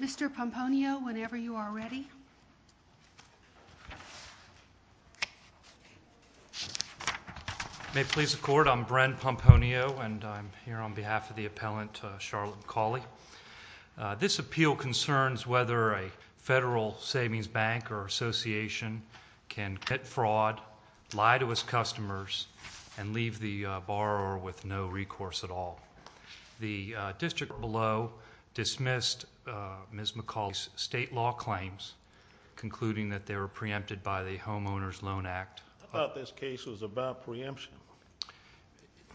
Mr. Pomponio, whenever you are ready. May it please the Court, I'm Brent Pomponio and I'm here on behalf of the appellant Charlotte McCauley. This appeal concerns whether a federal savings bank or association can commit fraud, lie to its customers, and leave the borrower with no recourse at all. The district below dismissed Ms. McCauley's state law claims, concluding that they were preempted by the Home Owners Loan Act. I thought this case was about preemption.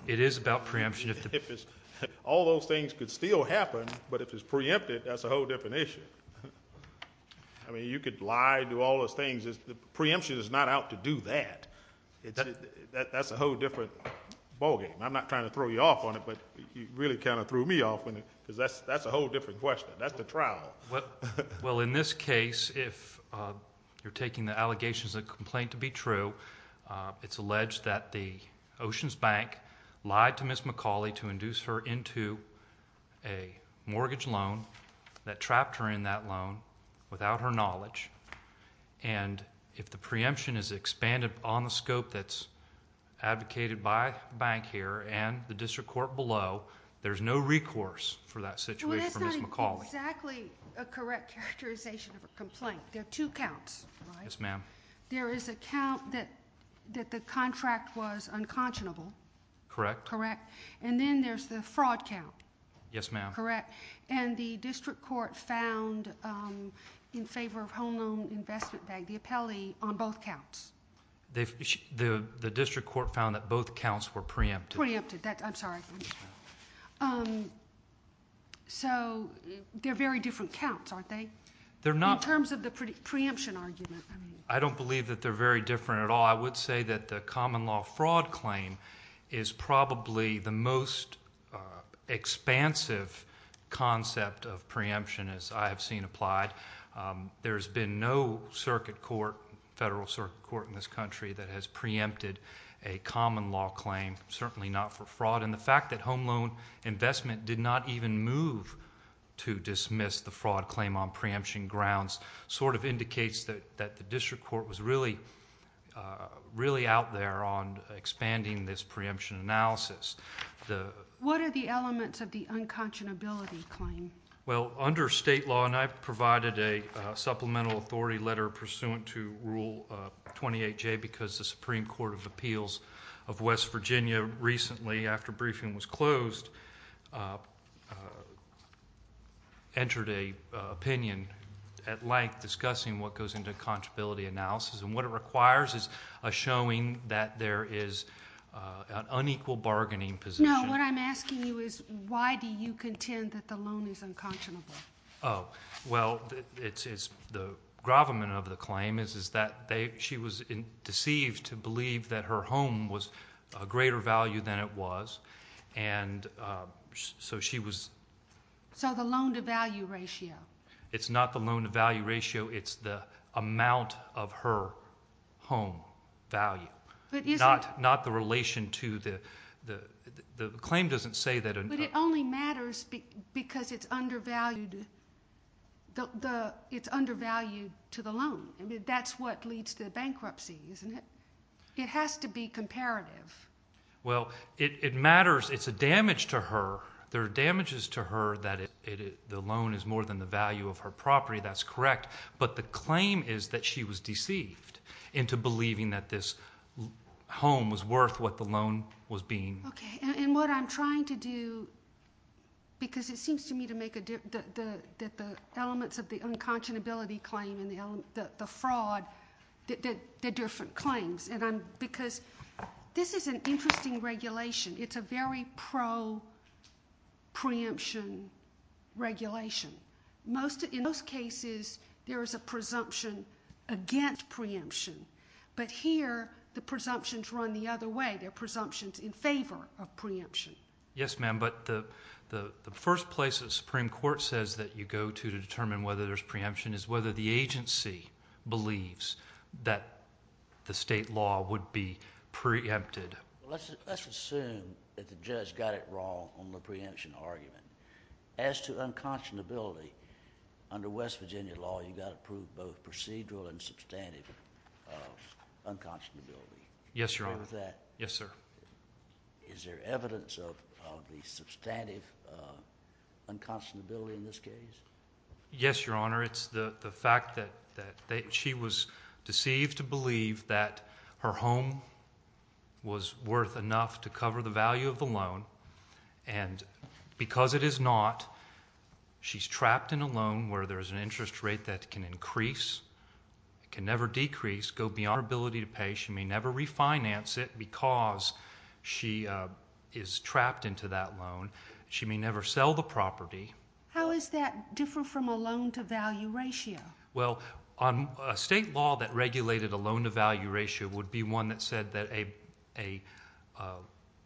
It is about preemption. All those things could still happen, but if it's preempted, that's a whole different issue. I mean, you could lie, do all those things, but preemption is not out to do that. That's a whole different ballgame. I'm not trying to throw you off on it, but you really kind of threw me off on it, because that's a whole different question. That's the trial. Well, in this case, if you're taking the allegation as a complaint to be true, it's alleged that the Oceans Bank lied to Ms. McCauley to induce her into a mortgage loan that trapped her in that loan without her knowledge, and if the preemption is expanded on the scope that's advocated by the bank here and the district court below, there's no recourse for that situation for Ms. McCauley. That's exactly a correct characterization of a complaint. There are two counts, right? Yes, ma'am. There is a count that the contract was unconscionable. Correct. Correct. And then there's the fraud count. Yes, ma'am. Correct. And the district court found, in favor of Home Loan Investment Bank, the appellee on both counts. The district court found that both counts were preempted. Preempted. I'm sorry. So they're very different counts, aren't they? They're not. In terms of the preemption argument. I don't believe that they're very different at all. I would say that the common law fraud claim is probably the most expansive concept of preemption as I have seen applied. There's been no circuit court, federal circuit court in this country, that has preempted a common law claim, certainly not for fraud. And the fact that Home Loan Investment did not even move to dismiss the fraud claim on preemption grounds sort of indicates that the district court was really out there on expanding this preemption analysis. What are the elements of the unconscionability claim? Well, under state law, and I provided a supplemental authority letter pursuant to Rule 28J because the Supreme Court of Appeals of West Virginia recently, after briefing was closed, entered an opinion at length discussing what goes into a conscionability analysis. And what it requires is a showing that there is an unequal bargaining position. No, what I'm asking you is why do you contend that the loan is unconscionable? Oh, well, the gravamen of the claim is that she was deceived to believe that her home was a greater value than it was, and so she was – So the loan-to-value ratio. It's not the loan-to-value ratio. It's the amount of her home value. Not the relation to the – the claim doesn't say that – But it only matters because it's undervalued to the loan. I mean, that's what leads to the bankruptcy, isn't it? It has to be comparative. Well, it matters – it's a damage to her. There are damages to her that the loan is more than the value of her property. That's correct, but the claim is that she was deceived into believing that this home was worth what the loan was being – Okay, and what I'm trying to do, because it seems to me that the elements of the unconscionability claim and the fraud, they're different claims. Because this is an interesting regulation. It's a very pro-preemption regulation. In most cases, there is a presumption against preemption, but here the presumptions run the other way. There are presumptions in favor of preemption. Yes, ma'am, but the first place the Supreme Court says that you go to to determine whether there's preemption is whether the agency believes that the state law would be preempted. Let's assume that the judge got it wrong on the preemption argument. As to unconscionability, under West Virginia law, you've got to prove both procedural and substantive unconscionability. Yes, Your Honor. Is there evidence of the substantive unconscionability in this case? Yes, Your Honor. It's the fact that she was deceived to believe that her home was worth enough to cover the value of the loan. And because it is not, she's trapped in a loan where there's an interest rate that can increase, can never decrease, go beyond her ability to pay. She may never refinance it because she is trapped into that loan. She may never sell the property. How is that different from a loan-to-value ratio? Well, a state law that regulated a loan-to-value ratio would be one that said that a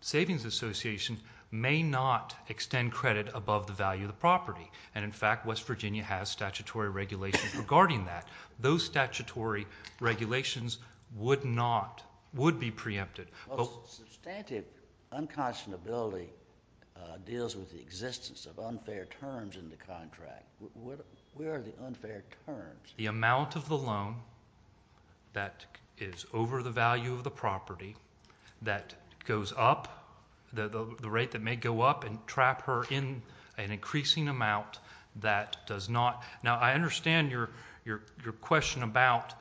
savings association may not extend credit above the value of the property. And, in fact, West Virginia has statutory regulations regarding that. Those statutory regulations would be preempted. Substantive unconscionability deals with the existence of unfair terms in the contract. Where are the unfair terms? The amount of the loan that is over the value of the property that goes up, the rate that may go up and trap her in an increasing amount that does not. Now, I understand your question about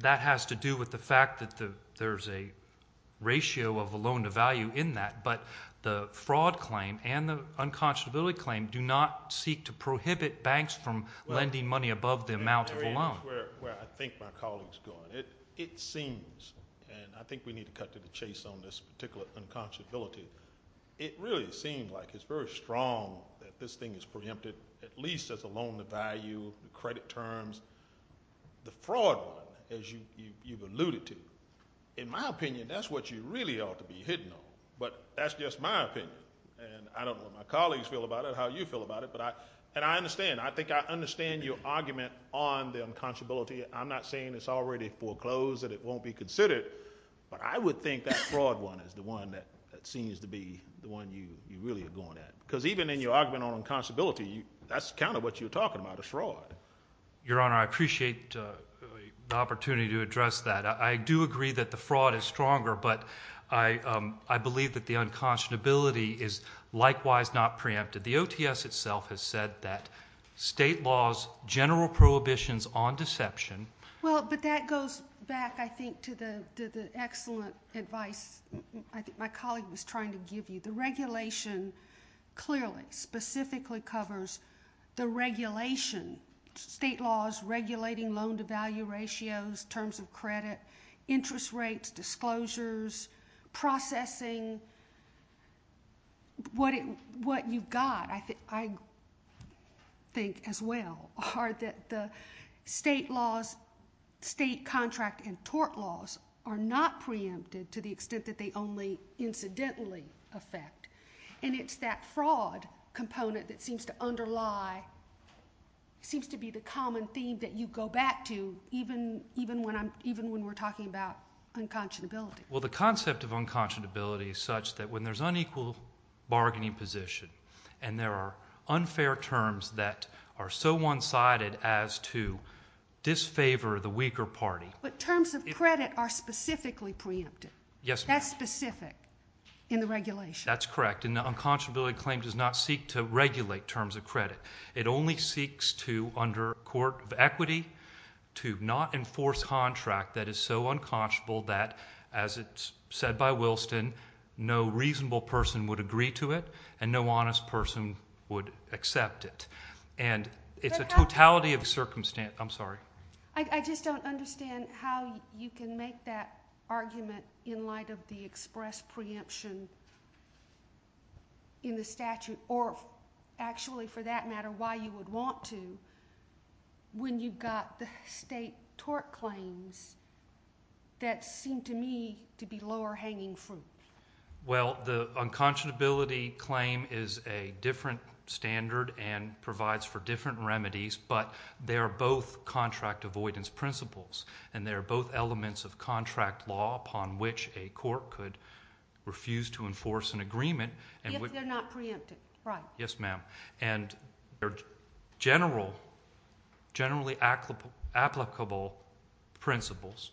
that has to do with the fact that there's a ratio of a loan-to-value in that. But the fraud claim and the unconscionability claim do not seek to prohibit banks from lending money above the amount of a loan. That's where I think my colleague is going. It seems, and I think we need to cut to the chase on this particular unconscionability. It really seems like it's very strong that this thing is preempted, at least as a loan-to-value, credit terms. The fraud one, as you've alluded to, in my opinion, that's what you really ought to be hitting on. But that's just my opinion, and I don't know what my colleagues feel about it, how you feel about it. And I understand. I think I understand your argument on the unconscionability. I'm not saying it's already foreclosed and it won't be considered, but I would think that fraud one is the one that seems to be the one you really are going at. Because even in your argument on unconscionability, that's kind of what you're talking about, a fraud. Your Honor, I appreciate the opportunity to address that. I do agree that the fraud is stronger, but I believe that the unconscionability is likewise not preempted. The OTS itself has said that state laws, general prohibitions on deception. Well, but that goes back, I think, to the excellent advice my colleague was trying to give you. The regulation clearly, specifically covers the regulation, state laws regulating loan-to-value ratios, terms of credit, interest rates, disclosures, processing. What you've got, I think as well, are that the state laws, state contract and tort laws, are not preempted to the extent that they only incidentally affect. And it's that fraud component that seems to underlie, seems to be the common theme that you go back to, even when we're talking about unconscionability. Well, the concept of unconscionability is such that when there's unequal bargaining position and there are unfair terms that are so one-sided as to disfavor the weaker party. But terms of credit are specifically preempted. Yes, ma'am. That's specific in the regulation. That's correct, and the unconscionability claim does not seek to regulate terms of credit. It only seeks to, under a court of equity, to not enforce contract that is so unconscionable that, as it's said by Wilson, no reasonable person would agree to it and no honest person would accept it. And it's a totality of circumstance. I'm sorry. I just don't understand how you can make that argument in light of the express preemption in the statute or actually, for that matter, why you would want to when you've got the state tort claims that seem to me to be lower-hanging fruit. Well, the unconscionability claim is a different standard and provides for different remedies, but they are both contract avoidance principles, and they are both elements of contract law upon which a court could refuse to enforce an agreement. If they're not preempted, right. Yes, ma'am. And they're generally applicable principles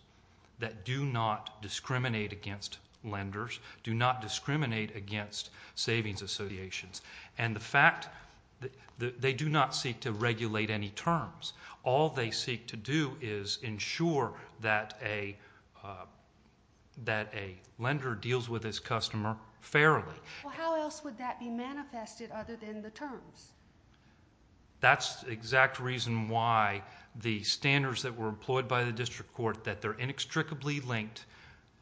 that do not discriminate against lenders, do not discriminate against savings associations, and the fact that they do not seek to regulate any terms. All they seek to do is ensure that a lender deals with his customer fairly. Well, how else would that be manifested other than the terms? That's the exact reason why the standards that were employed by the district court, that they're inextricably linked,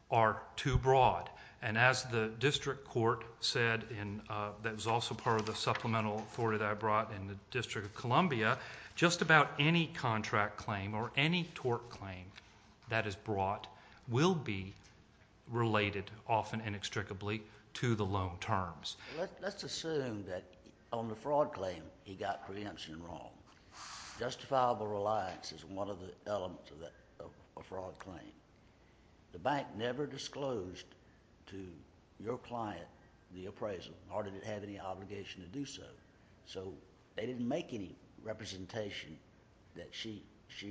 are too broad. And as the district court said, and that was also part of the supplemental authority that I brought in the District of Columbia, just about any contract claim or any tort claim that is brought will be related, often inextricably, to the loan terms. Let's assume that on the fraud claim he got preemption wrong. Justifiable reliance is one of the elements of a fraud claim. The bank never disclosed to your client the appraisal or did it have any obligation to do so. So they didn't make any representation that she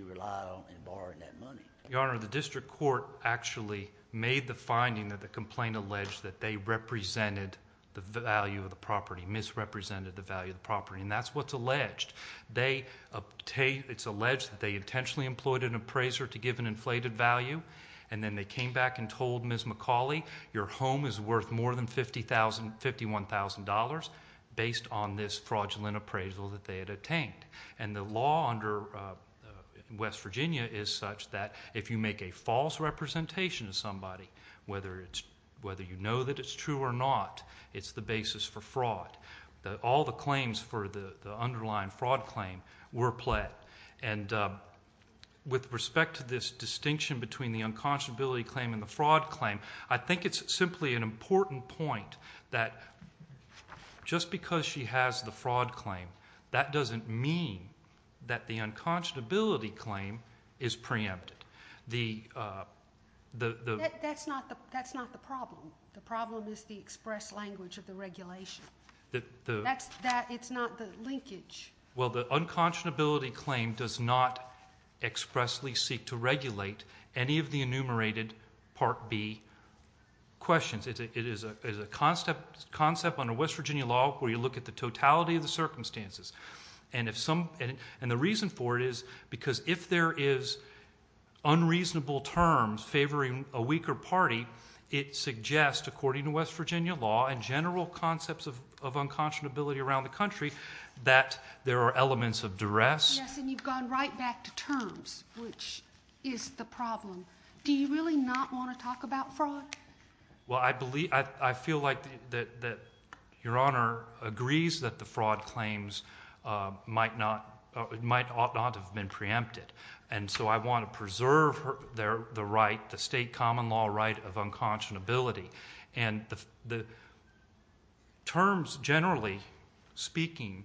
relied on in borrowing that money. Your Honor, the district court actually made the finding that the complaint alleged that they represented the value of the property, misrepresented the value of the property, and that's what's alleged. It's alleged that they intentionally employed an appraiser to give an inflated value, and then they came back and told Ms. McCauley, your home is worth more than $51,000 based on this fraudulent appraisal that they had obtained. And the law under West Virginia is such that if you make a false representation of somebody, whether you know that it's true or not, it's the basis for fraud. All the claims for the underlying fraud claim were pled. And with respect to this distinction between the unconscionability claim and the fraud claim, I think it's simply an important point that just because she has the fraud claim, that doesn't mean that the unconscionability claim is preempted. That's not the problem. The problem is the express language of the regulation. It's not the linkage. Well, the unconscionability claim does not expressly seek to regulate any of the enumerated Part B questions. It is a concept under West Virginia law where you look at the totality of the circumstances. And the reason for it is because if there is unreasonable terms favoring a weaker party, it suggests, according to West Virginia law and general concepts of unconscionability around the country, that there are elements of duress. Yes, and you've gone right back to terms, which is the problem. Do you really not want to talk about fraud? Well, I feel like that Your Honor agrees that the fraud claims might not have been preempted. And so I want to preserve the right, the state common law right of unconscionability. And the terms generally speaking,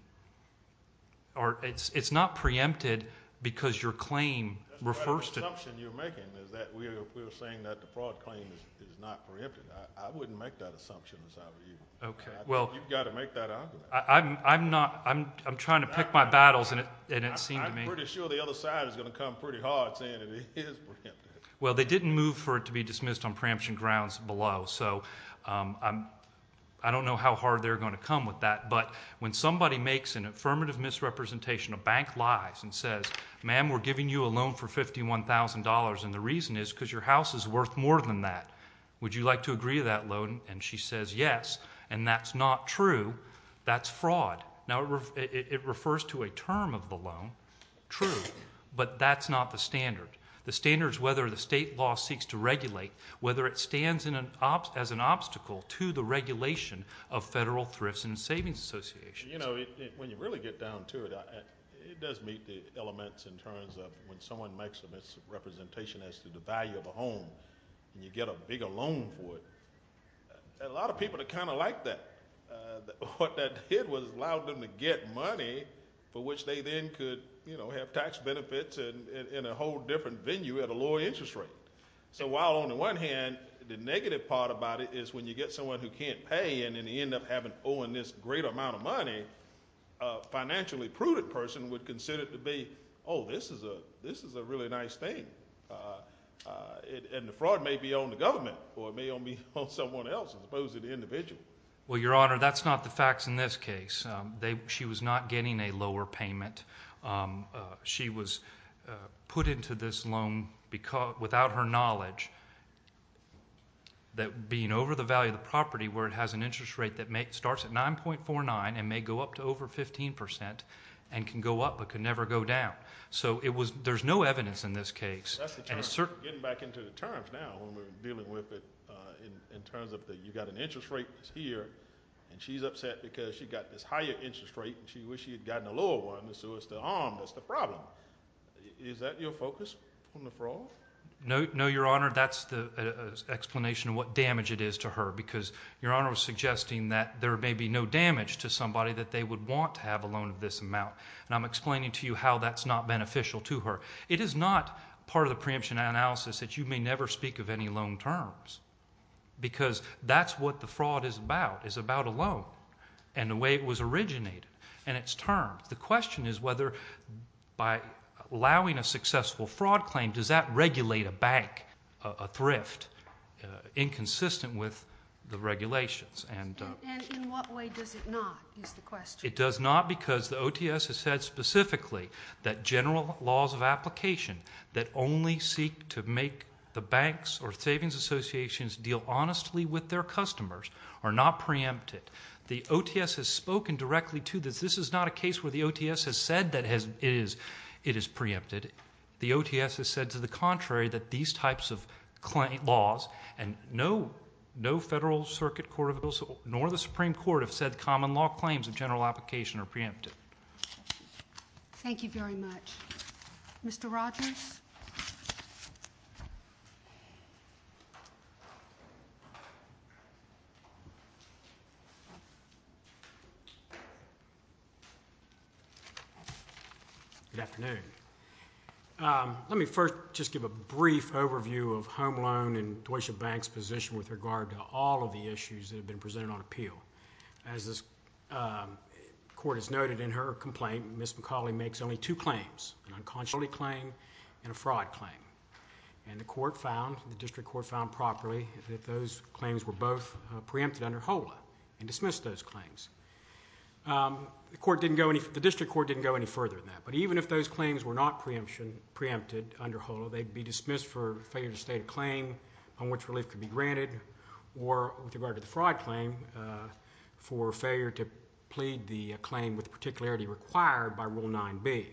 it's not preempted because your claim refers to it. The assumption you're making is that we're saying that the fraud claim is not preempted. I wouldn't make that assumption in the sight of you. I think you've got to make that argument. I'm trying to pick my battles, and it seems to me. I'm pretty sure the other side is going to come pretty hard saying it is preempted. Well, they didn't move for it to be dismissed on preemption grounds below. So I don't know how hard they're going to come with that. But when somebody makes an affirmative misrepresentation, a bank lies and says, ma'am, we're giving you a loan for $51,000, and the reason is because your house is worth more than that. Would you like to agree to that loan? And she says yes, and that's not true. That's fraud. Now, it refers to a term of the loan, true, but that's not the standard. The standard is whether the state law seeks to regulate, whether it stands as an obstacle to the regulation of federal thrifts and savings associations. When you really get down to it, it does meet the elements in terms of when someone makes a misrepresentation as to the value of a home and you get a bigger loan for it, a lot of people are kind of like that. What that did was allow them to get money for which they then could have tax benefits in a whole different venue at a lower interest rate. So while on the one hand, the negative part about it is when you get someone who can't pay and they end up owing this great amount of money, a financially prudent person would consider it to be, oh, this is a really nice thing. And the fraud may be on the government or it may be on someone else as opposed to the individual. Well, Your Honor, that's not the facts in this case. She was not getting a lower payment. She was put into this loan without her knowledge that being over the value of the property where it has an interest rate that starts at 9.49 and may go up to over 15% and can go up but can never go down. So there's no evidence in this case. Getting back into the terms now when we're dealing with it in terms of you've got an interest rate here and she's upset because she got this higher interest rate and she wished she had gotten a lower one so it's the harm that's the problem. Is that your focus on the fraud? No, Your Honor, that's the explanation of what damage it is to her because Your Honor was suggesting that there may be no damage to somebody that they would want to have a loan of this amount. And I'm explaining to you how that's not beneficial to her. It is not part of the preemption analysis that you may never speak of any loan terms because that's what the fraud is about, is about a loan and the way it was originated and its terms. The question is whether by allowing a successful fraud claim, does that regulate a bank, a thrift inconsistent with the regulations. And in what way does it not is the question. It does not because the OTS has said specifically that general laws of application that only seek to make the banks or savings associations deal honestly with their customers are not preempted. The OTS has spoken directly to this. This is not a case where the OTS has said that it is preempted. The OTS has said to the contrary that these types of laws and no Federal Circuit Court of Appeals nor the Supreme Court have said common law claims of general application are preempted. Thank you very much. Mr. Rogers? Good afternoon. Let me first just give a brief overview of Home Loan and Deutsche Bank's position with regard to all of the issues that have been presented on appeal. As this court has noted in her complaint, Ms. McCauley makes only two claims, an unconscionable claim and a fraud claim. And the court found, the district court found properly, that those claims were both preempted under HOLA and dismissed those claims. The district court didn't go any further than that. But even if those claims were not preempted under HOLA, they'd be dismissed for failure to state a claim on which relief could be granted or, with regard to the fraud claim, for failure to plead the claim with the particularity required by Rule 9b.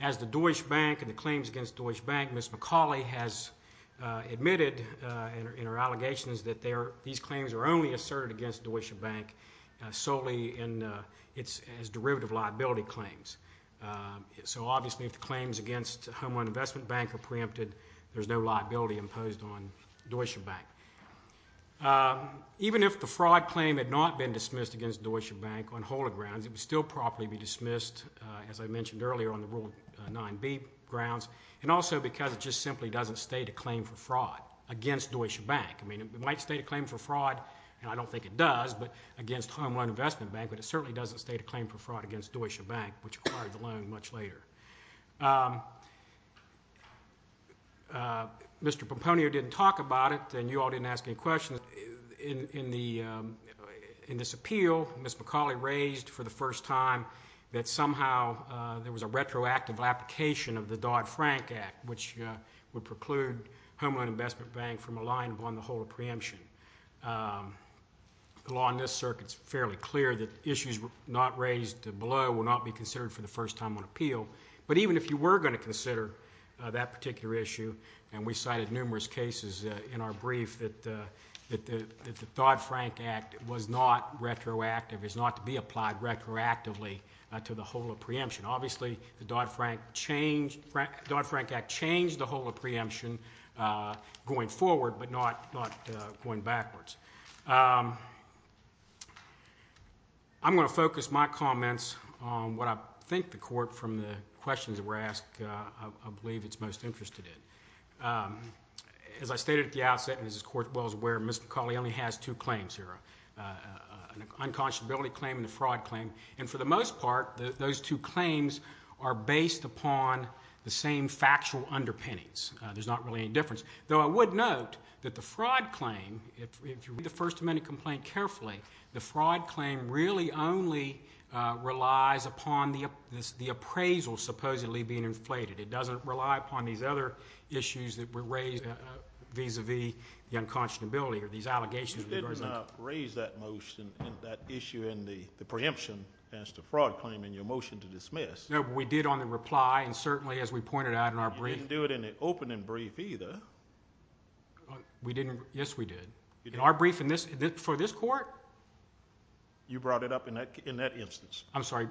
As the Deutsche Bank and the claims against Deutsche Bank, Ms. McCauley has admitted in her allegations that these claims are only asserted against Deutsche Bank solely as derivative liability claims. So obviously if the claims against Home Loan Investment Bank are preempted, there's no liability imposed on Deutsche Bank. Even if the fraud claim had not been dismissed against Deutsche Bank on HOLA grounds, it would still properly be dismissed, as I mentioned earlier, on the Rule 9b grounds, and also because it just simply doesn't state a claim for fraud against Deutsche Bank. It might state a claim for fraud, and I don't think it does, against Home Loan Investment Bank, but it certainly doesn't state a claim for fraud against Deutsche Bank, which acquired the loan much later. Mr. Pomponio didn't talk about it, and you all didn't ask any questions. In this appeal, Ms. McCauley raised for the first time that somehow there was a retroactive application of the Dodd-Frank Act, which would preclude Home Loan Investment Bank from a line upon the HOLA preemption. The law in this circuit is fairly clear that issues not raised below will not be considered for the first time on appeal, but even if you were going to consider that particular issue, and we cited numerous cases in our brief that the Dodd-Frank Act was not retroactive, is not to be applied retroactively to the HOLA preemption. Obviously, the Dodd-Frank Act changed the HOLA preemption going forward, but not going backwards. I'm going to focus my comments on what I think the Court, from the questions that were asked, I believe it's most interested in. As I stated at the outset, and as this Court well is aware, Ms. McCauley only has two claims here, an unconscionability claim and a fraud claim, and for the most part, those two claims are based upon the same factual underpinnings. There's not really any difference. Though I would note that the fraud claim, if you read the First Amendment complaint carefully, the fraud claim really only relies upon the appraisal supposedly being inflated. It doesn't rely upon these other issues that were raised vis-a-vis the unconscionability or these allegations that were presented. You did not raise that issue in the preemption as to fraud claim in your motion to dismiss. No, but we did on the reply, and certainly as we pointed out in our brief. You didn't do it in the opening brief either. Yes, we did. In our brief for this Court? You brought it up in that instance. I'm sorry.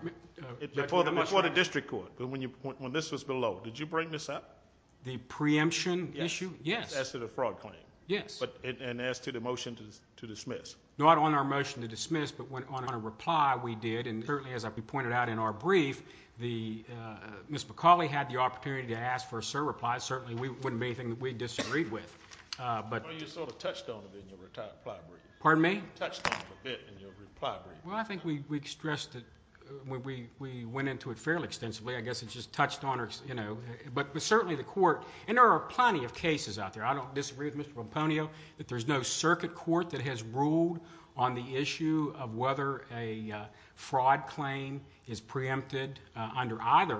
Before the district court, when this was below. Did you bring this up? The preemption issue? Yes. As to the fraud claim. Yes. And as to the motion to dismiss? Not on our motion to dismiss, but on a reply we did. And certainly as we pointed out in our brief, Ms. McCauley had the opportunity to ask for a certain reply. Certainly, it wouldn't be anything that we disagreed with. You sort of touched on it in your reply brief. Pardon me? You touched on it a bit in your reply brief. Well, I think we stressed it. We went into it fairly extensively. I guess it just touched on it. But certainly the Court, and there are plenty of cases out there. I don't disagree with Mr. Pomponio that there's no circuit court that has ruled on the issue of whether a fraud claim is preempted under either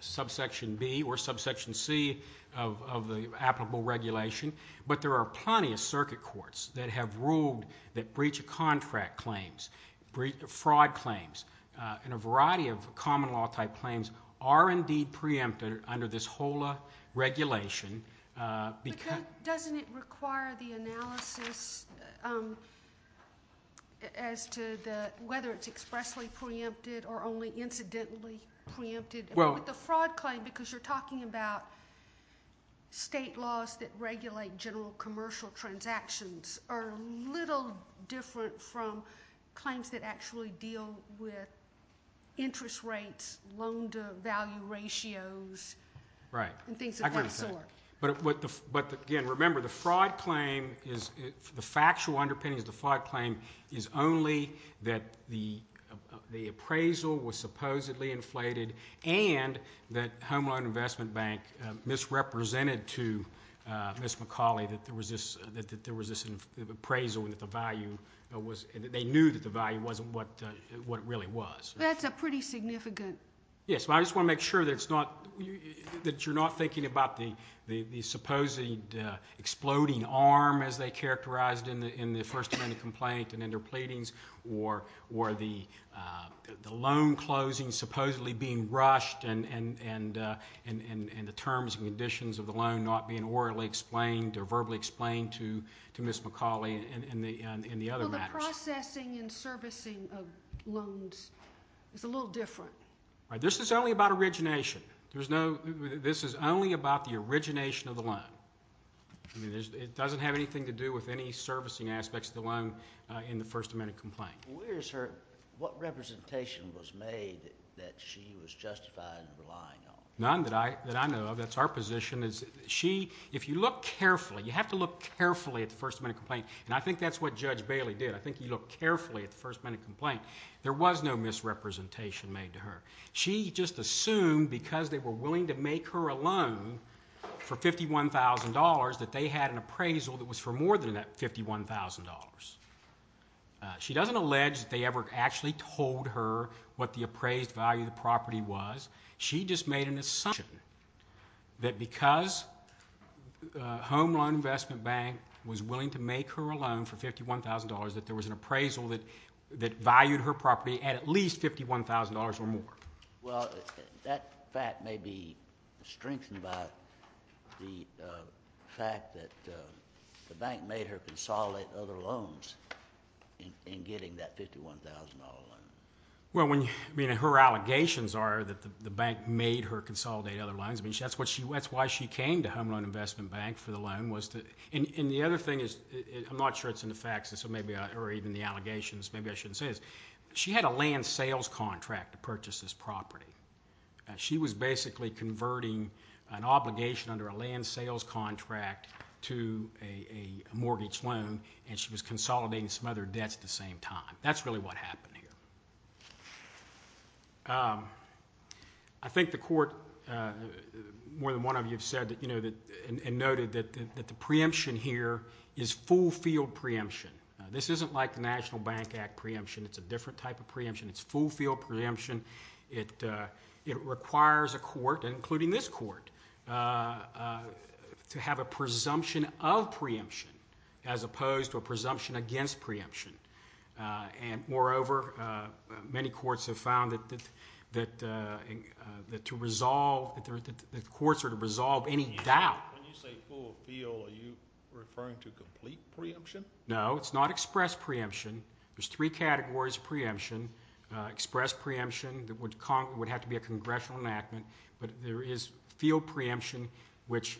subsection B or subsection C of the applicable regulation. But there are plenty of circuit courts that have ruled that breach of contract claims, fraud claims, and a variety of common law type claims are indeed preempted under this HOLA regulation. But doesn't it require the analysis as to whether it's expressly preempted or only incidentally preempted? With the fraud claim, because you're talking about state laws that regulate general commercial transactions, are a little different from claims that actually deal with interest rates, loan to value ratios, and things of that sort. But again, remember, the fraud claim, the factual underpinnings of the fraud claim, is only that the appraisal was supposedly inflated and that Home Loan Investment Bank misrepresented to Ms. McCauley that there was this appraisal and that they knew that the value wasn't what it really was. That's a pretty significant... Yes, but I just want to make sure that you're not thinking about the supposedly exploding arm as they characterized in the First Amendment complaint and in their pleadings, or the loan closing supposedly being rushed and the terms and conditions of the loan not being orally explained or verbally explained to Ms. McCauley in the other matters. So the processing and servicing of loans is a little different. This is only about origination. This is only about the origination of the loan. It doesn't have anything to do with any servicing aspects of the loan in the First Amendment complaint. What representation was made that she was justified in relying on? None that I know of. That's our position. If you look carefully, you have to look carefully at the First Amendment complaint, and I think that's what Judge Bailey did. I think you look carefully at the First Amendment complaint. There was no misrepresentation made to her. She just assumed because they were willing to make her a loan for $51,000 that they had an appraisal that was for more than that $51,000. She doesn't allege that they ever actually told her what the appraised value of the property was. She just made an assumption that because Home Loan Investment Bank was willing to make her a loan for $51,000 that there was an appraisal that valued her property at at least $51,000 or more. Well, that fact may be strengthened by the fact that the bank made her consolidate other loans in getting that $51,000 loan. Well, her allegations are that the bank made her consolidate other loans. That's why she came to Home Loan Investment Bank for the loan. The other thing is—I'm not sure it's in the facts, or even the allegations. Maybe I shouldn't say this. She had a land sales contract to purchase this property. She was basically converting an obligation under a land sales contract to a mortgage loan, and she was consolidating some other debts at the same time. That's really what happened here. I think the court—more than one of you have said and noted that the preemption here is full-field preemption. This isn't like the National Bank Act preemption. It's a different type of preemption. It's full-field preemption. It requires a court, including this court, to have a presumption of preemption as opposed to a presumption against preemption. Moreover, many courts have found that courts are to resolve any doubt. When you say full-field, are you referring to complete preemption? No, it's not express preemption. There's three categories of preemption. Express preemption would have to be a congressional enactment, but there is field preemption, which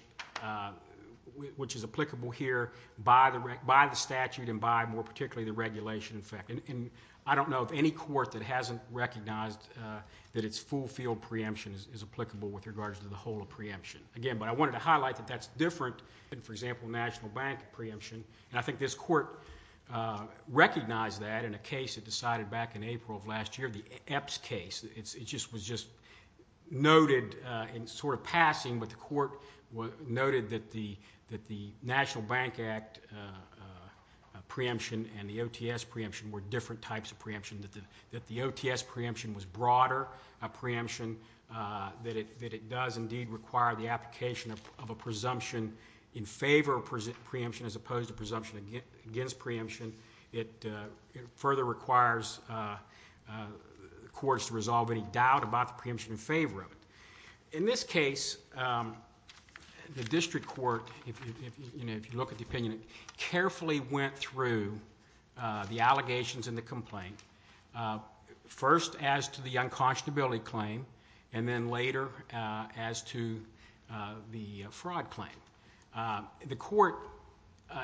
is applicable here by the statute and by, more particularly, the regulation, in fact. I don't know of any court that hasn't recognized that it's full-field preemption is applicable with regards to the whole of preemption. Again, I wanted to highlight that that's different than, for example, National Bank preemption. I think this court recognized that in a case it decided back in April of last year, the Epps case. It was just noted in sort of passing, but the court noted that the National Bank Act preemption and the OTS preemption were different types of preemption, that the OTS preemption was broader a preemption, that it does indeed require the application of a presumption in favor of preemption as opposed to a presumption against preemption. It further requires courts to resolve any doubt about the preemption in favor of it. In this case, the district court, if you look at the opinion, carefully went through the allegations in the complaint. First, as to the unconscionability claim, and then later as to the fraud claim. The court,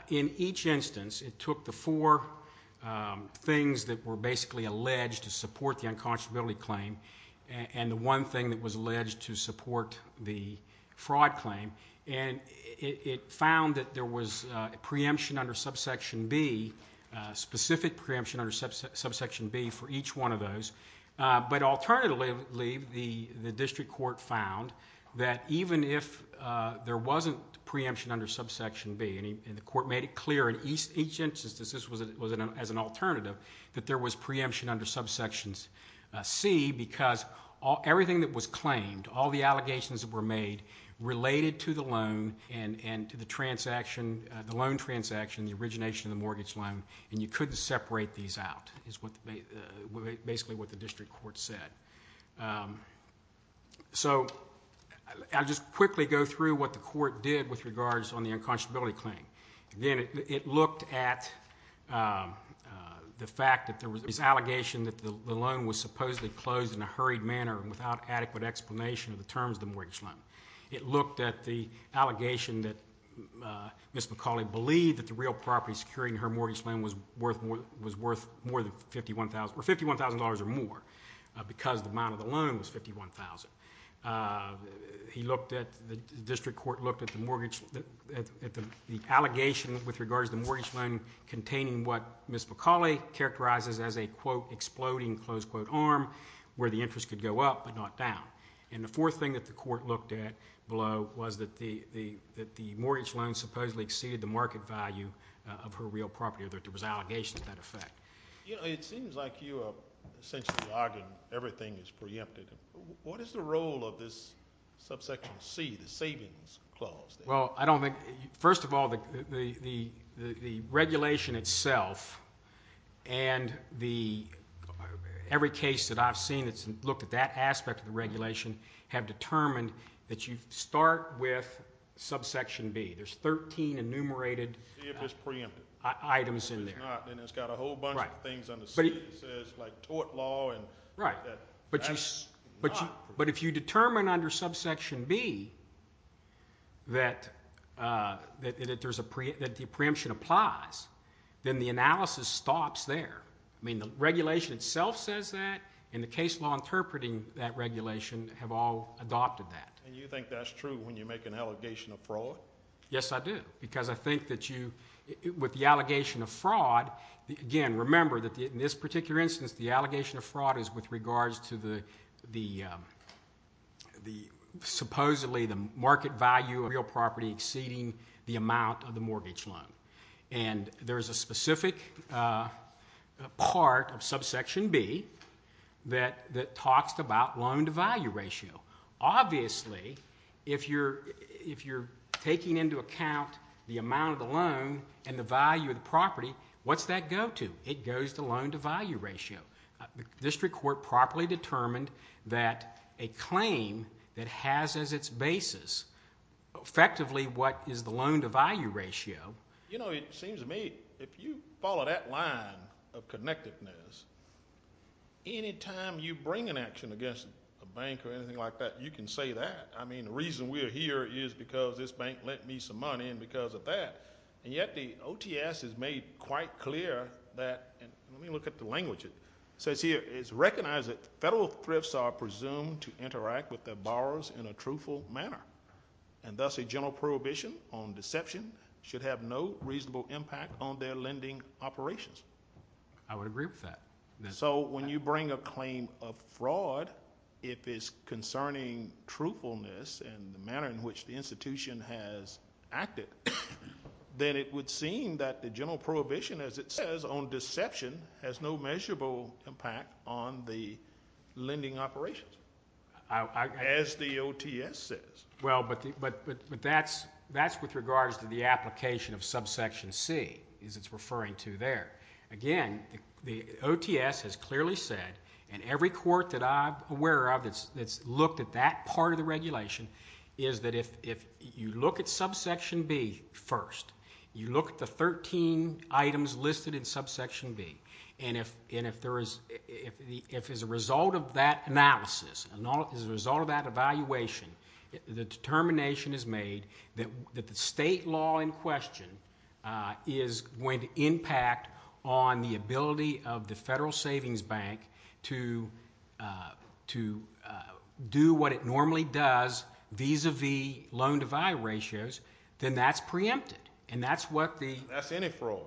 in each instance, it took the four things that were basically alleged to support the unconscionability claim and the one thing that was alleged to support the fraud claim, and it found that there was a preemption under subsection B, a specific preemption under subsection B for each one of those. Alternatively, the district court found that even if there wasn't preemption under subsection B, and the court made it clear in each instance this was as an alternative, that there was preemption under subsections C because everything that was claimed, all the allegations that were made related to the loan and to the transaction, the loan transaction, the origination of the mortgage loan, and you couldn't separate these out is basically what the district court said. I'll just quickly go through what the court did with regards on the unconscionability claim. Again, it looked at the fact that there was this allegation that the loan was supposedly closed in a hurried manner and without adequate explanation of the terms of the mortgage loan. It looked at the allegation that Ms. McCauley believed that the real property securing her mortgage loan was worth more than $51,000, or $51,000 or more because the amount of the loan was $51,000. The district court looked at the allegation with regards to the mortgage loan containing what Ms. McCauley characterizes as a, quote, exploding, close quote, arm where the interest could go up but not down. The fourth thing that the court looked at below was that the mortgage loan supposedly exceeded the market value of her real property, or that there was an allegation to that effect. It seems like you are essentially arguing everything is preempted. What is the role of this subsection C, the savings clause? First of all, the regulation itself and every case that I have seen that has looked at that aspect of the regulation have determined that you start with subsection B. There are 13 enumerated items in there. It's got a whole bunch of things under C that says tort law. But if you determine under subsection B that the preemption applies, then the analysis stops there. The regulation itself says that, and the case law interpreting that regulation have all adopted that. And you think that's true when you make an allegation of fraud? Yes, I do, because I think that with the allegation of fraud, again, remember that in this particular instance the allegation of fraud is with regards to the supposedly the market value of real property exceeding the amount of the mortgage loan. And there is a specific part of subsection B that talks about loan to value ratio. Obviously, if you're taking into account the amount of the loan and the value of the property, what's that go to? It goes to loan to value ratio. The district court properly determined that a claim that has as its basis effectively what is the loan to value ratio. You know, it seems to me if you follow that line of connectedness, any time you bring an action against a bank or anything like that, you can say that. I mean, the reason we're here is because this bank lent me some money and because of that. And yet the OTS has made quite clear that, and let me look at the language. It says here, it's recognized that federal thrifts are presumed to interact with their borrowers in a truthful manner. And thus a general prohibition on deception should have no reasonable impact on their lending operations. I would agree with that. So when you bring a claim of fraud, if it's concerning truthfulness and the manner in which the institution has acted, then it would seem that the general prohibition as it says on deception has no measurable impact on the lending operations. As the OTS says. Well, but that's with regards to the application of subsection C, as it's referring to there. Again, the OTS has clearly said, and every court that I'm aware of that's looked at that part of the regulation, is that if you look at subsection B first, you look at the 13 items listed in subsection B, and if as a result of that analysis, as a result of that evaluation, the determination is made that the state law in question is going to impact on the ability of the Federal Savings Bank to do what it normally does vis-a-vis loan-to-value ratios, then that's preempted. And that's what the- That's any fraud.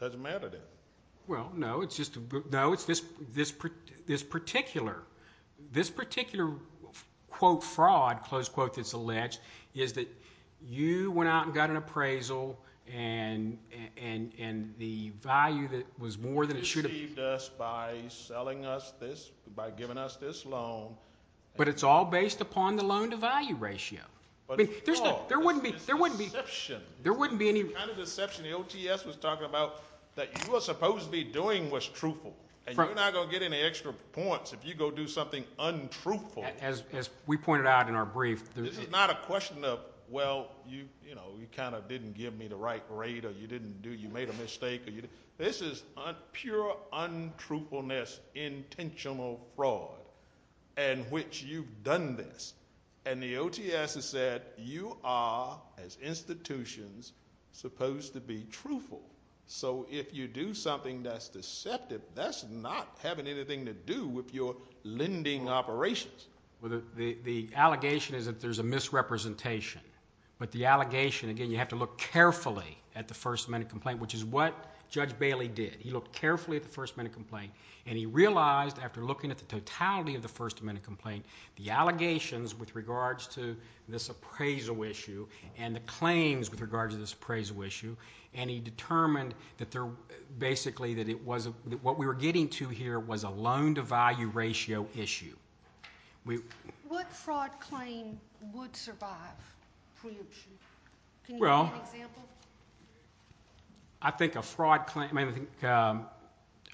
Doesn't matter then. Well, no. It's just- No, it's this particular- This particular, quote, fraud, close quote, that's alleged, is that you went out and got an appraisal, and the value that was more than it should have- You deceived us by selling us this, by giving us this loan. But it's all based upon the loan-to-value ratio. There wouldn't be- It's deception. There wouldn't be any- It's the kind of deception the OTS was talking about that you were supposed to be doing was truthful. And you're not going to get any extra points if you go do something untruthful. As we pointed out in our brief, there's- This is not a question of, well, you kind of didn't give me the right grade, or you didn't do-you made a mistake. This is pure untruthfulness, intentional fraud, in which you've done this. And the OTS has said you are, as institutions, supposed to be truthful. So if you do something that's deceptive, that's not having anything to do with your lending operations. The allegation is that there's a misrepresentation. But the allegation-again, you have to look carefully at the First Amendment complaint, which is what Judge Bailey did. He looked carefully at the First Amendment complaint, and he realized, after looking at the totality of the First Amendment complaint, the allegations with regards to this appraisal issue, and the claims with regards to this appraisal issue, and he determined that basically what we were getting to here was a loan-to-value ratio issue. What fraud claim would survive preemption? Can you give me an example? I think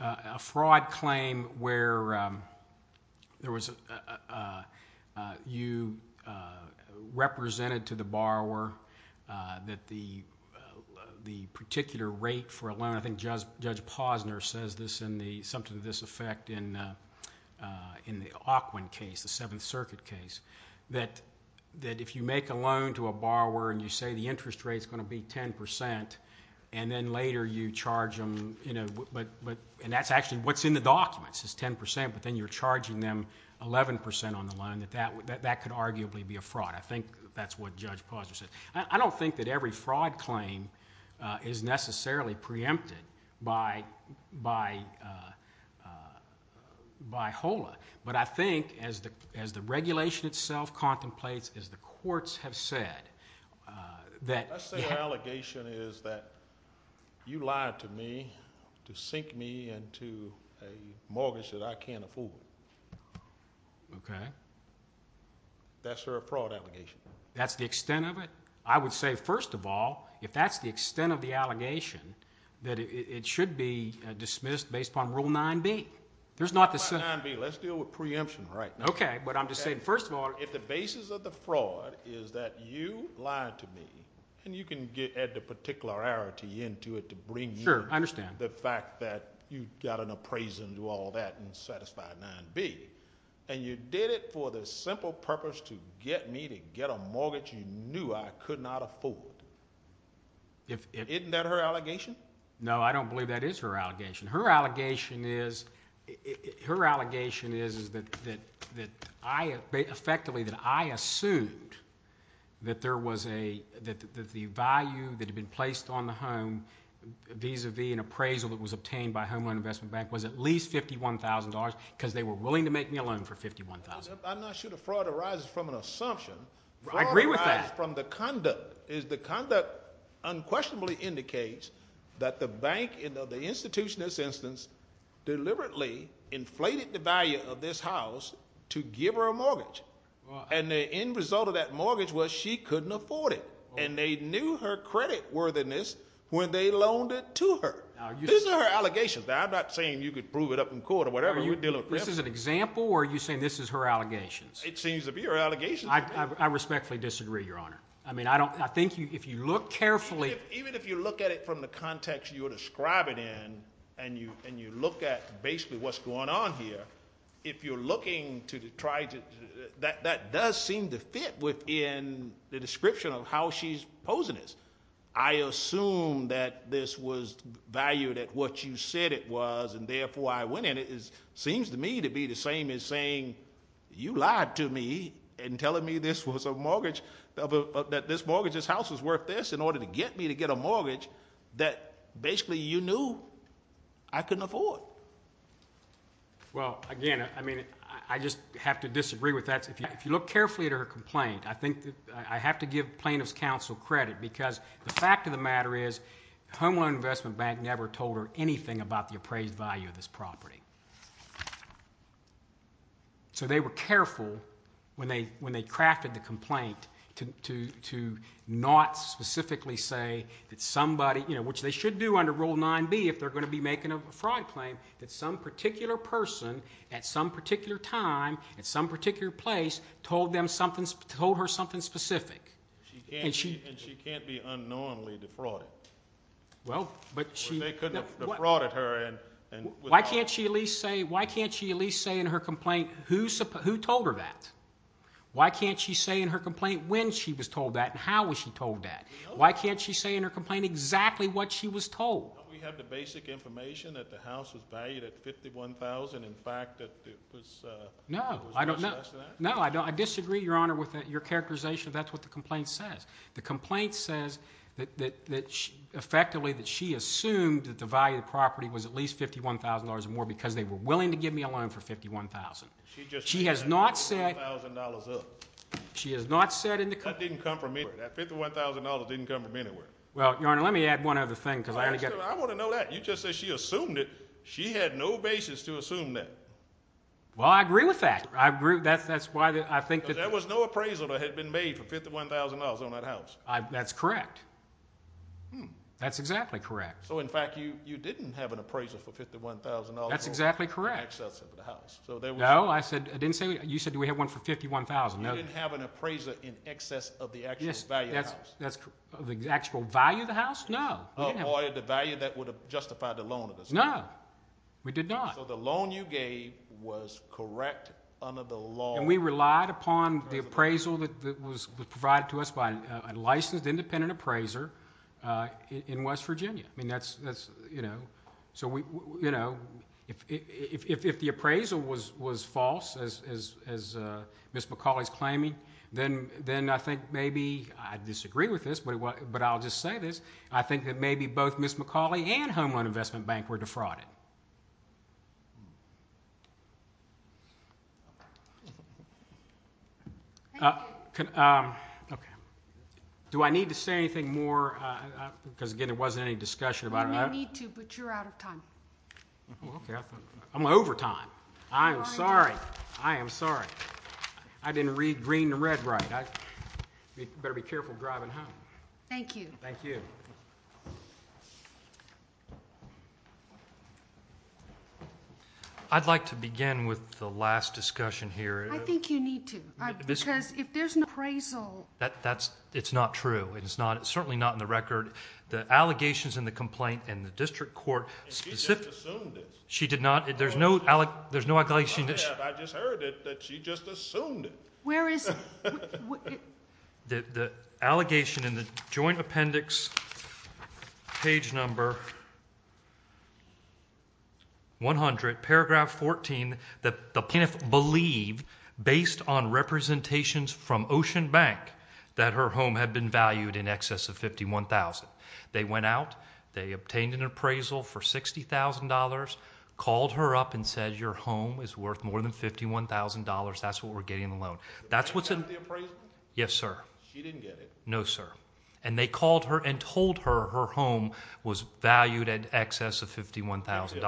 a fraud claim where you represented to the borrower that the particular rate for a loan- I think Judge Posner says something to this effect in the Ockwin case, the Seventh Circuit case- that if you make a loan to a borrower and you say the interest rate is going to be 10 percent, and then later you charge them-and that's actually what's in the documents is 10 percent, but then you're charging them 11 percent on the loan, that that could arguably be a fraud. I think that's what Judge Posner said. I don't think that every fraud claim is necessarily preempted by HOLA, but I think as the regulation itself contemplates, as the courts have said- Let's say her allegation is that you lied to me to sink me into a mortgage that I can't afford. Okay. That's her fraud allegation. That's the extent of it? I would say, first of all, if that's the extent of the allegation, that it should be dismissed based upon Rule 9b. Rule 9b, let's deal with preemption right now. Okay, but I'm just saying, first of all- If the basis of the fraud is that you lied to me, and you can add the particularity into it to bring you- Sure, I understand. The fact that you got an appraisal and do all that in Satisfy 9b, and you did it for the simple purpose to get me to get a mortgage you knew I could not afford. Isn't that her allegation? No, I don't believe that is her allegation. Her allegation is that I effectively assumed that the value that had been placed on the home vis-à-vis an appraisal that was obtained by Homeland Investment Bank was at least $51,000 because they were willing to make me a loan for $51,000. I'm not sure the fraud arises from an assumption. I agree with that. The conduct unquestionably indicates that the institution, in this instance, deliberately inflated the value of this house to give her a mortgage. The end result of that mortgage was she couldn't afford it, and they knew her credit worthiness when they loaned it to her. These are her allegations. I'm not saying you could prove it up in court or whatever. This is an example, or are you saying this is her allegations? It seems to be her allegations. I respectfully disagree, Your Honor. I think if you look carefully— Even if you look at it from the context you're describing and you look at basically what's going on here, if you're looking to try to—that does seem to fit within the description of how she's posing this. I assume that this was valued at what you said it was, and therefore I went in. It seems to me to be the same as saying you lied to me and telling me this was a mortgage, that this mortgage, this house was worth this in order to get me to get a mortgage that basically you knew I couldn't afford. Well, again, I just have to disagree with that. If you look carefully at her complaint, I think I have to give plaintiff's counsel credit because the fact of the matter is Home Loan Investment Bank never told her anything about the appraised value of this property. So they were careful when they crafted the complaint to not specifically say that somebody— which they should do under Rule 9b if they're going to be making a fraud claim— that some particular person at some particular time at some particular place told her something specific. And she can't be unknowingly defrauded. Well, but she— They couldn't have defrauded her and— Why can't she at least say in her complaint who told her that? Why can't she say in her complaint when she was told that and how was she told that? Why can't she say in her complaint exactly what she was told? Don't we have the basic information that the house was valued at $51,000, in fact, that it was— No, I don't know. No, I disagree, Your Honor, with your characterization. That's what the complaint says. The complaint says effectively that she assumed that the value of the property was at least $51,000 or more because they were willing to give me a loan for $51,000. She just— She has not said— $51,000 up. She has not said in the complaint— That didn't come from anywhere. That $51,000 didn't come from anywhere. Well, Your Honor, let me add one other thing because I want to get— I want to know that. You just said she assumed it. She had no basis to assume that. Well, I agree with that. I agree. That's why I think that— That's correct. That's exactly correct. So, in fact, you didn't have an appraiser for $51,000 or more. That's exactly correct. In excess of the house. No, I didn't say—you said do we have one for $51,000. No. You didn't have an appraiser in excess of the actual value of the house. Yes, that's correct. The actual value of the house? No. Or the value that would have justified the loan at the same time. No. We did not. So the loan you gave was correct under the law— And we relied upon the appraisal that was provided to us by a licensed independent appraiser in West Virginia. I mean, that's, you know—so, you know, if the appraisal was false, as Ms. McCauley's claiming, then I think maybe—I disagree with this, but I'll just say this— I think that maybe both Ms. McCauley and Homeland Investment Bank were defrauded. Thank you. Okay. Do I need to say anything more? Because, again, there wasn't any discussion about it. You may need to, but you're out of time. Okay. I'm over time. I am sorry. I am sorry. I didn't read green to red right. You better be careful driving home. Thank you. Thank you. I'd like to begin with the last discussion here. I think you need to, because if there's an appraisal— That's—it's not true. It's not—it's certainly not in the record. The allegations in the complaint in the district court specifically— She just assumed it. She did not—there's no allegation— I have. I just heard it that she just assumed it. Where is— The allegation in the joint appendix, page number 100, paragraph 14, that the plaintiff believed, based on representations from Ocean Bank, that her home had been valued in excess of $51,000. They went out. They obtained an appraisal for $60,000, called her up and said your home is worth more than $51,000. That's what we're getting in the loan. Did the bank get the appraisal? Yes, sir. She didn't get it. No, sir. And they called her and told her her home was valued in excess of $51,000.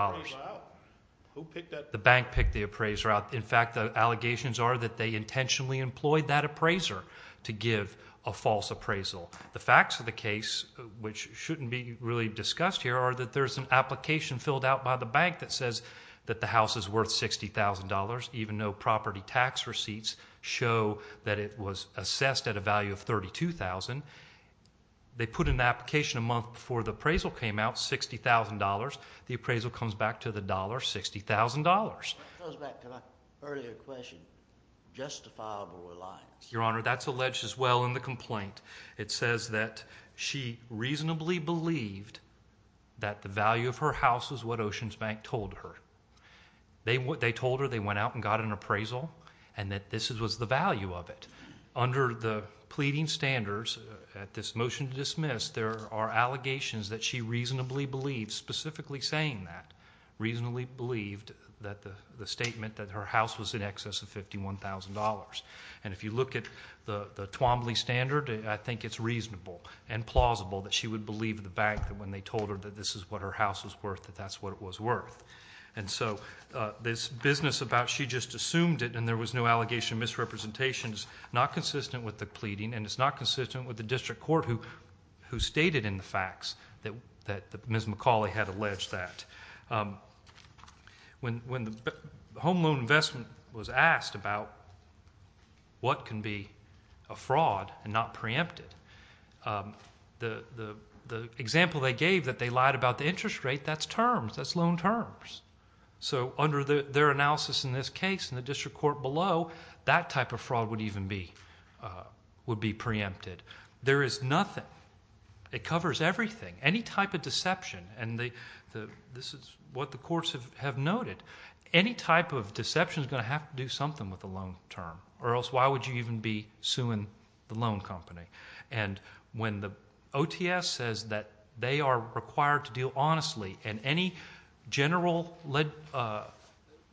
Did the bank pick the appraiser out? Who picked that— The bank picked the appraiser out. In fact, the allegations are that they intentionally employed that appraiser to give a false appraisal. The facts of the case, which shouldn't be really discussed here, are that there's an application filled out by the bank that says that the house is worth $60,000, even though property tax receipts show that it was assessed at a value of $32,000. They put an application a month before the appraisal came out, $60,000. The appraisal comes back to the dollar, $60,000. That goes back to my earlier question, justifiable or not? Your Honor, that's alleged as well in the complaint. It says that she reasonably believed that the value of her house was what Ocean Bank told her. They told her they went out and got an appraisal and that this was the value of it. Under the pleading standards at this motion to dismiss, there are allegations that she reasonably believed, specifically saying that, reasonably believed that the statement that her house was in excess of $51,000. If you look at the Twombly standard, I think it's reasonable and plausible that she would believe the bank when they told her that this is what her house was worth, that that's what it was worth. This business about she just assumed it and there was no allegation of misrepresentation is not consistent with the pleading, and it's not consistent with the district court who stated in the facts that Ms. McCauley had alleged that. When the home loan investment was asked about what can be a fraud and not preempted, the example they gave that they lied about the interest rate, that's terms. That's loan terms. So under their analysis in this case and the district court below, that type of fraud would even be preempted. There is nothing. It covers everything. Any type of deception, and this is what the courts have noted, any type of deception is going to have to do something with the loan term, or else why would you even be suing the loan company? And when the OTS says that they are required to deal honestly and any general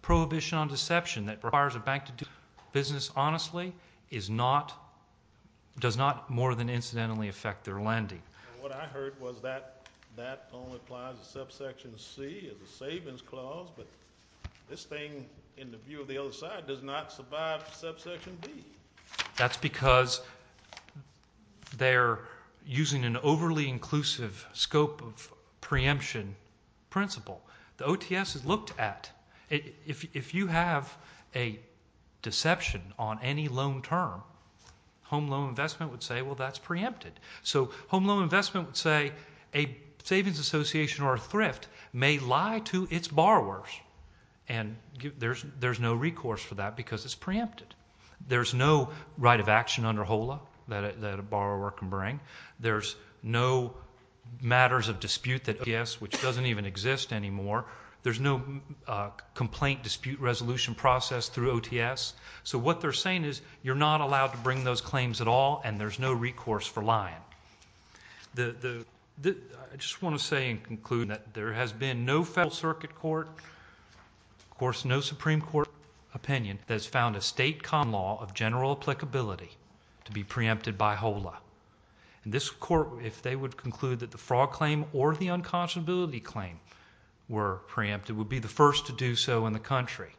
prohibition on deception that requires a bank to do business honestly does not more than incidentally affect their lending. What I heard was that that only applies to subsection C as a savings clause, but this thing in the view of the other side does not survive subsection D. That's because they're using an overly inclusive scope of preemption principle. The OTS has looked at if you have a deception on any loan term, home loan investment would say, well, that's preempted. So home loan investment would say a savings association or a thrift may lie to its borrowers, and there's no recourse for that because it's preempted. There's no right of action under HOLA that a borrower can bring. There's no matters of dispute that OTS, which doesn't even exist anymore. There's no complaint dispute resolution process through OTS. So what they're saying is you're not allowed to bring those claims at all, and there's no recourse for lying. I just want to say and conclude that there has been no federal circuit court, of course no Supreme Court opinion that has found a state common law of general applicability to be preempted by HOLA. This court, if they would conclude that the fraud claim or the unconscionability claim were preempted, would be the first to do so in the country.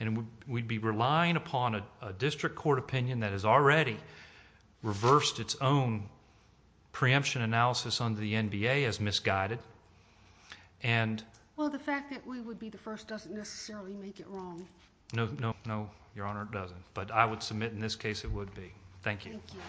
And we'd be relying upon a district court opinion that has already reversed its own preemption analysis under the NBA as misguided. Well, the fact that we would be the first doesn't necessarily make it wrong. No, Your Honor, it doesn't. But I would submit in this case it would be. Thank you. Thank you.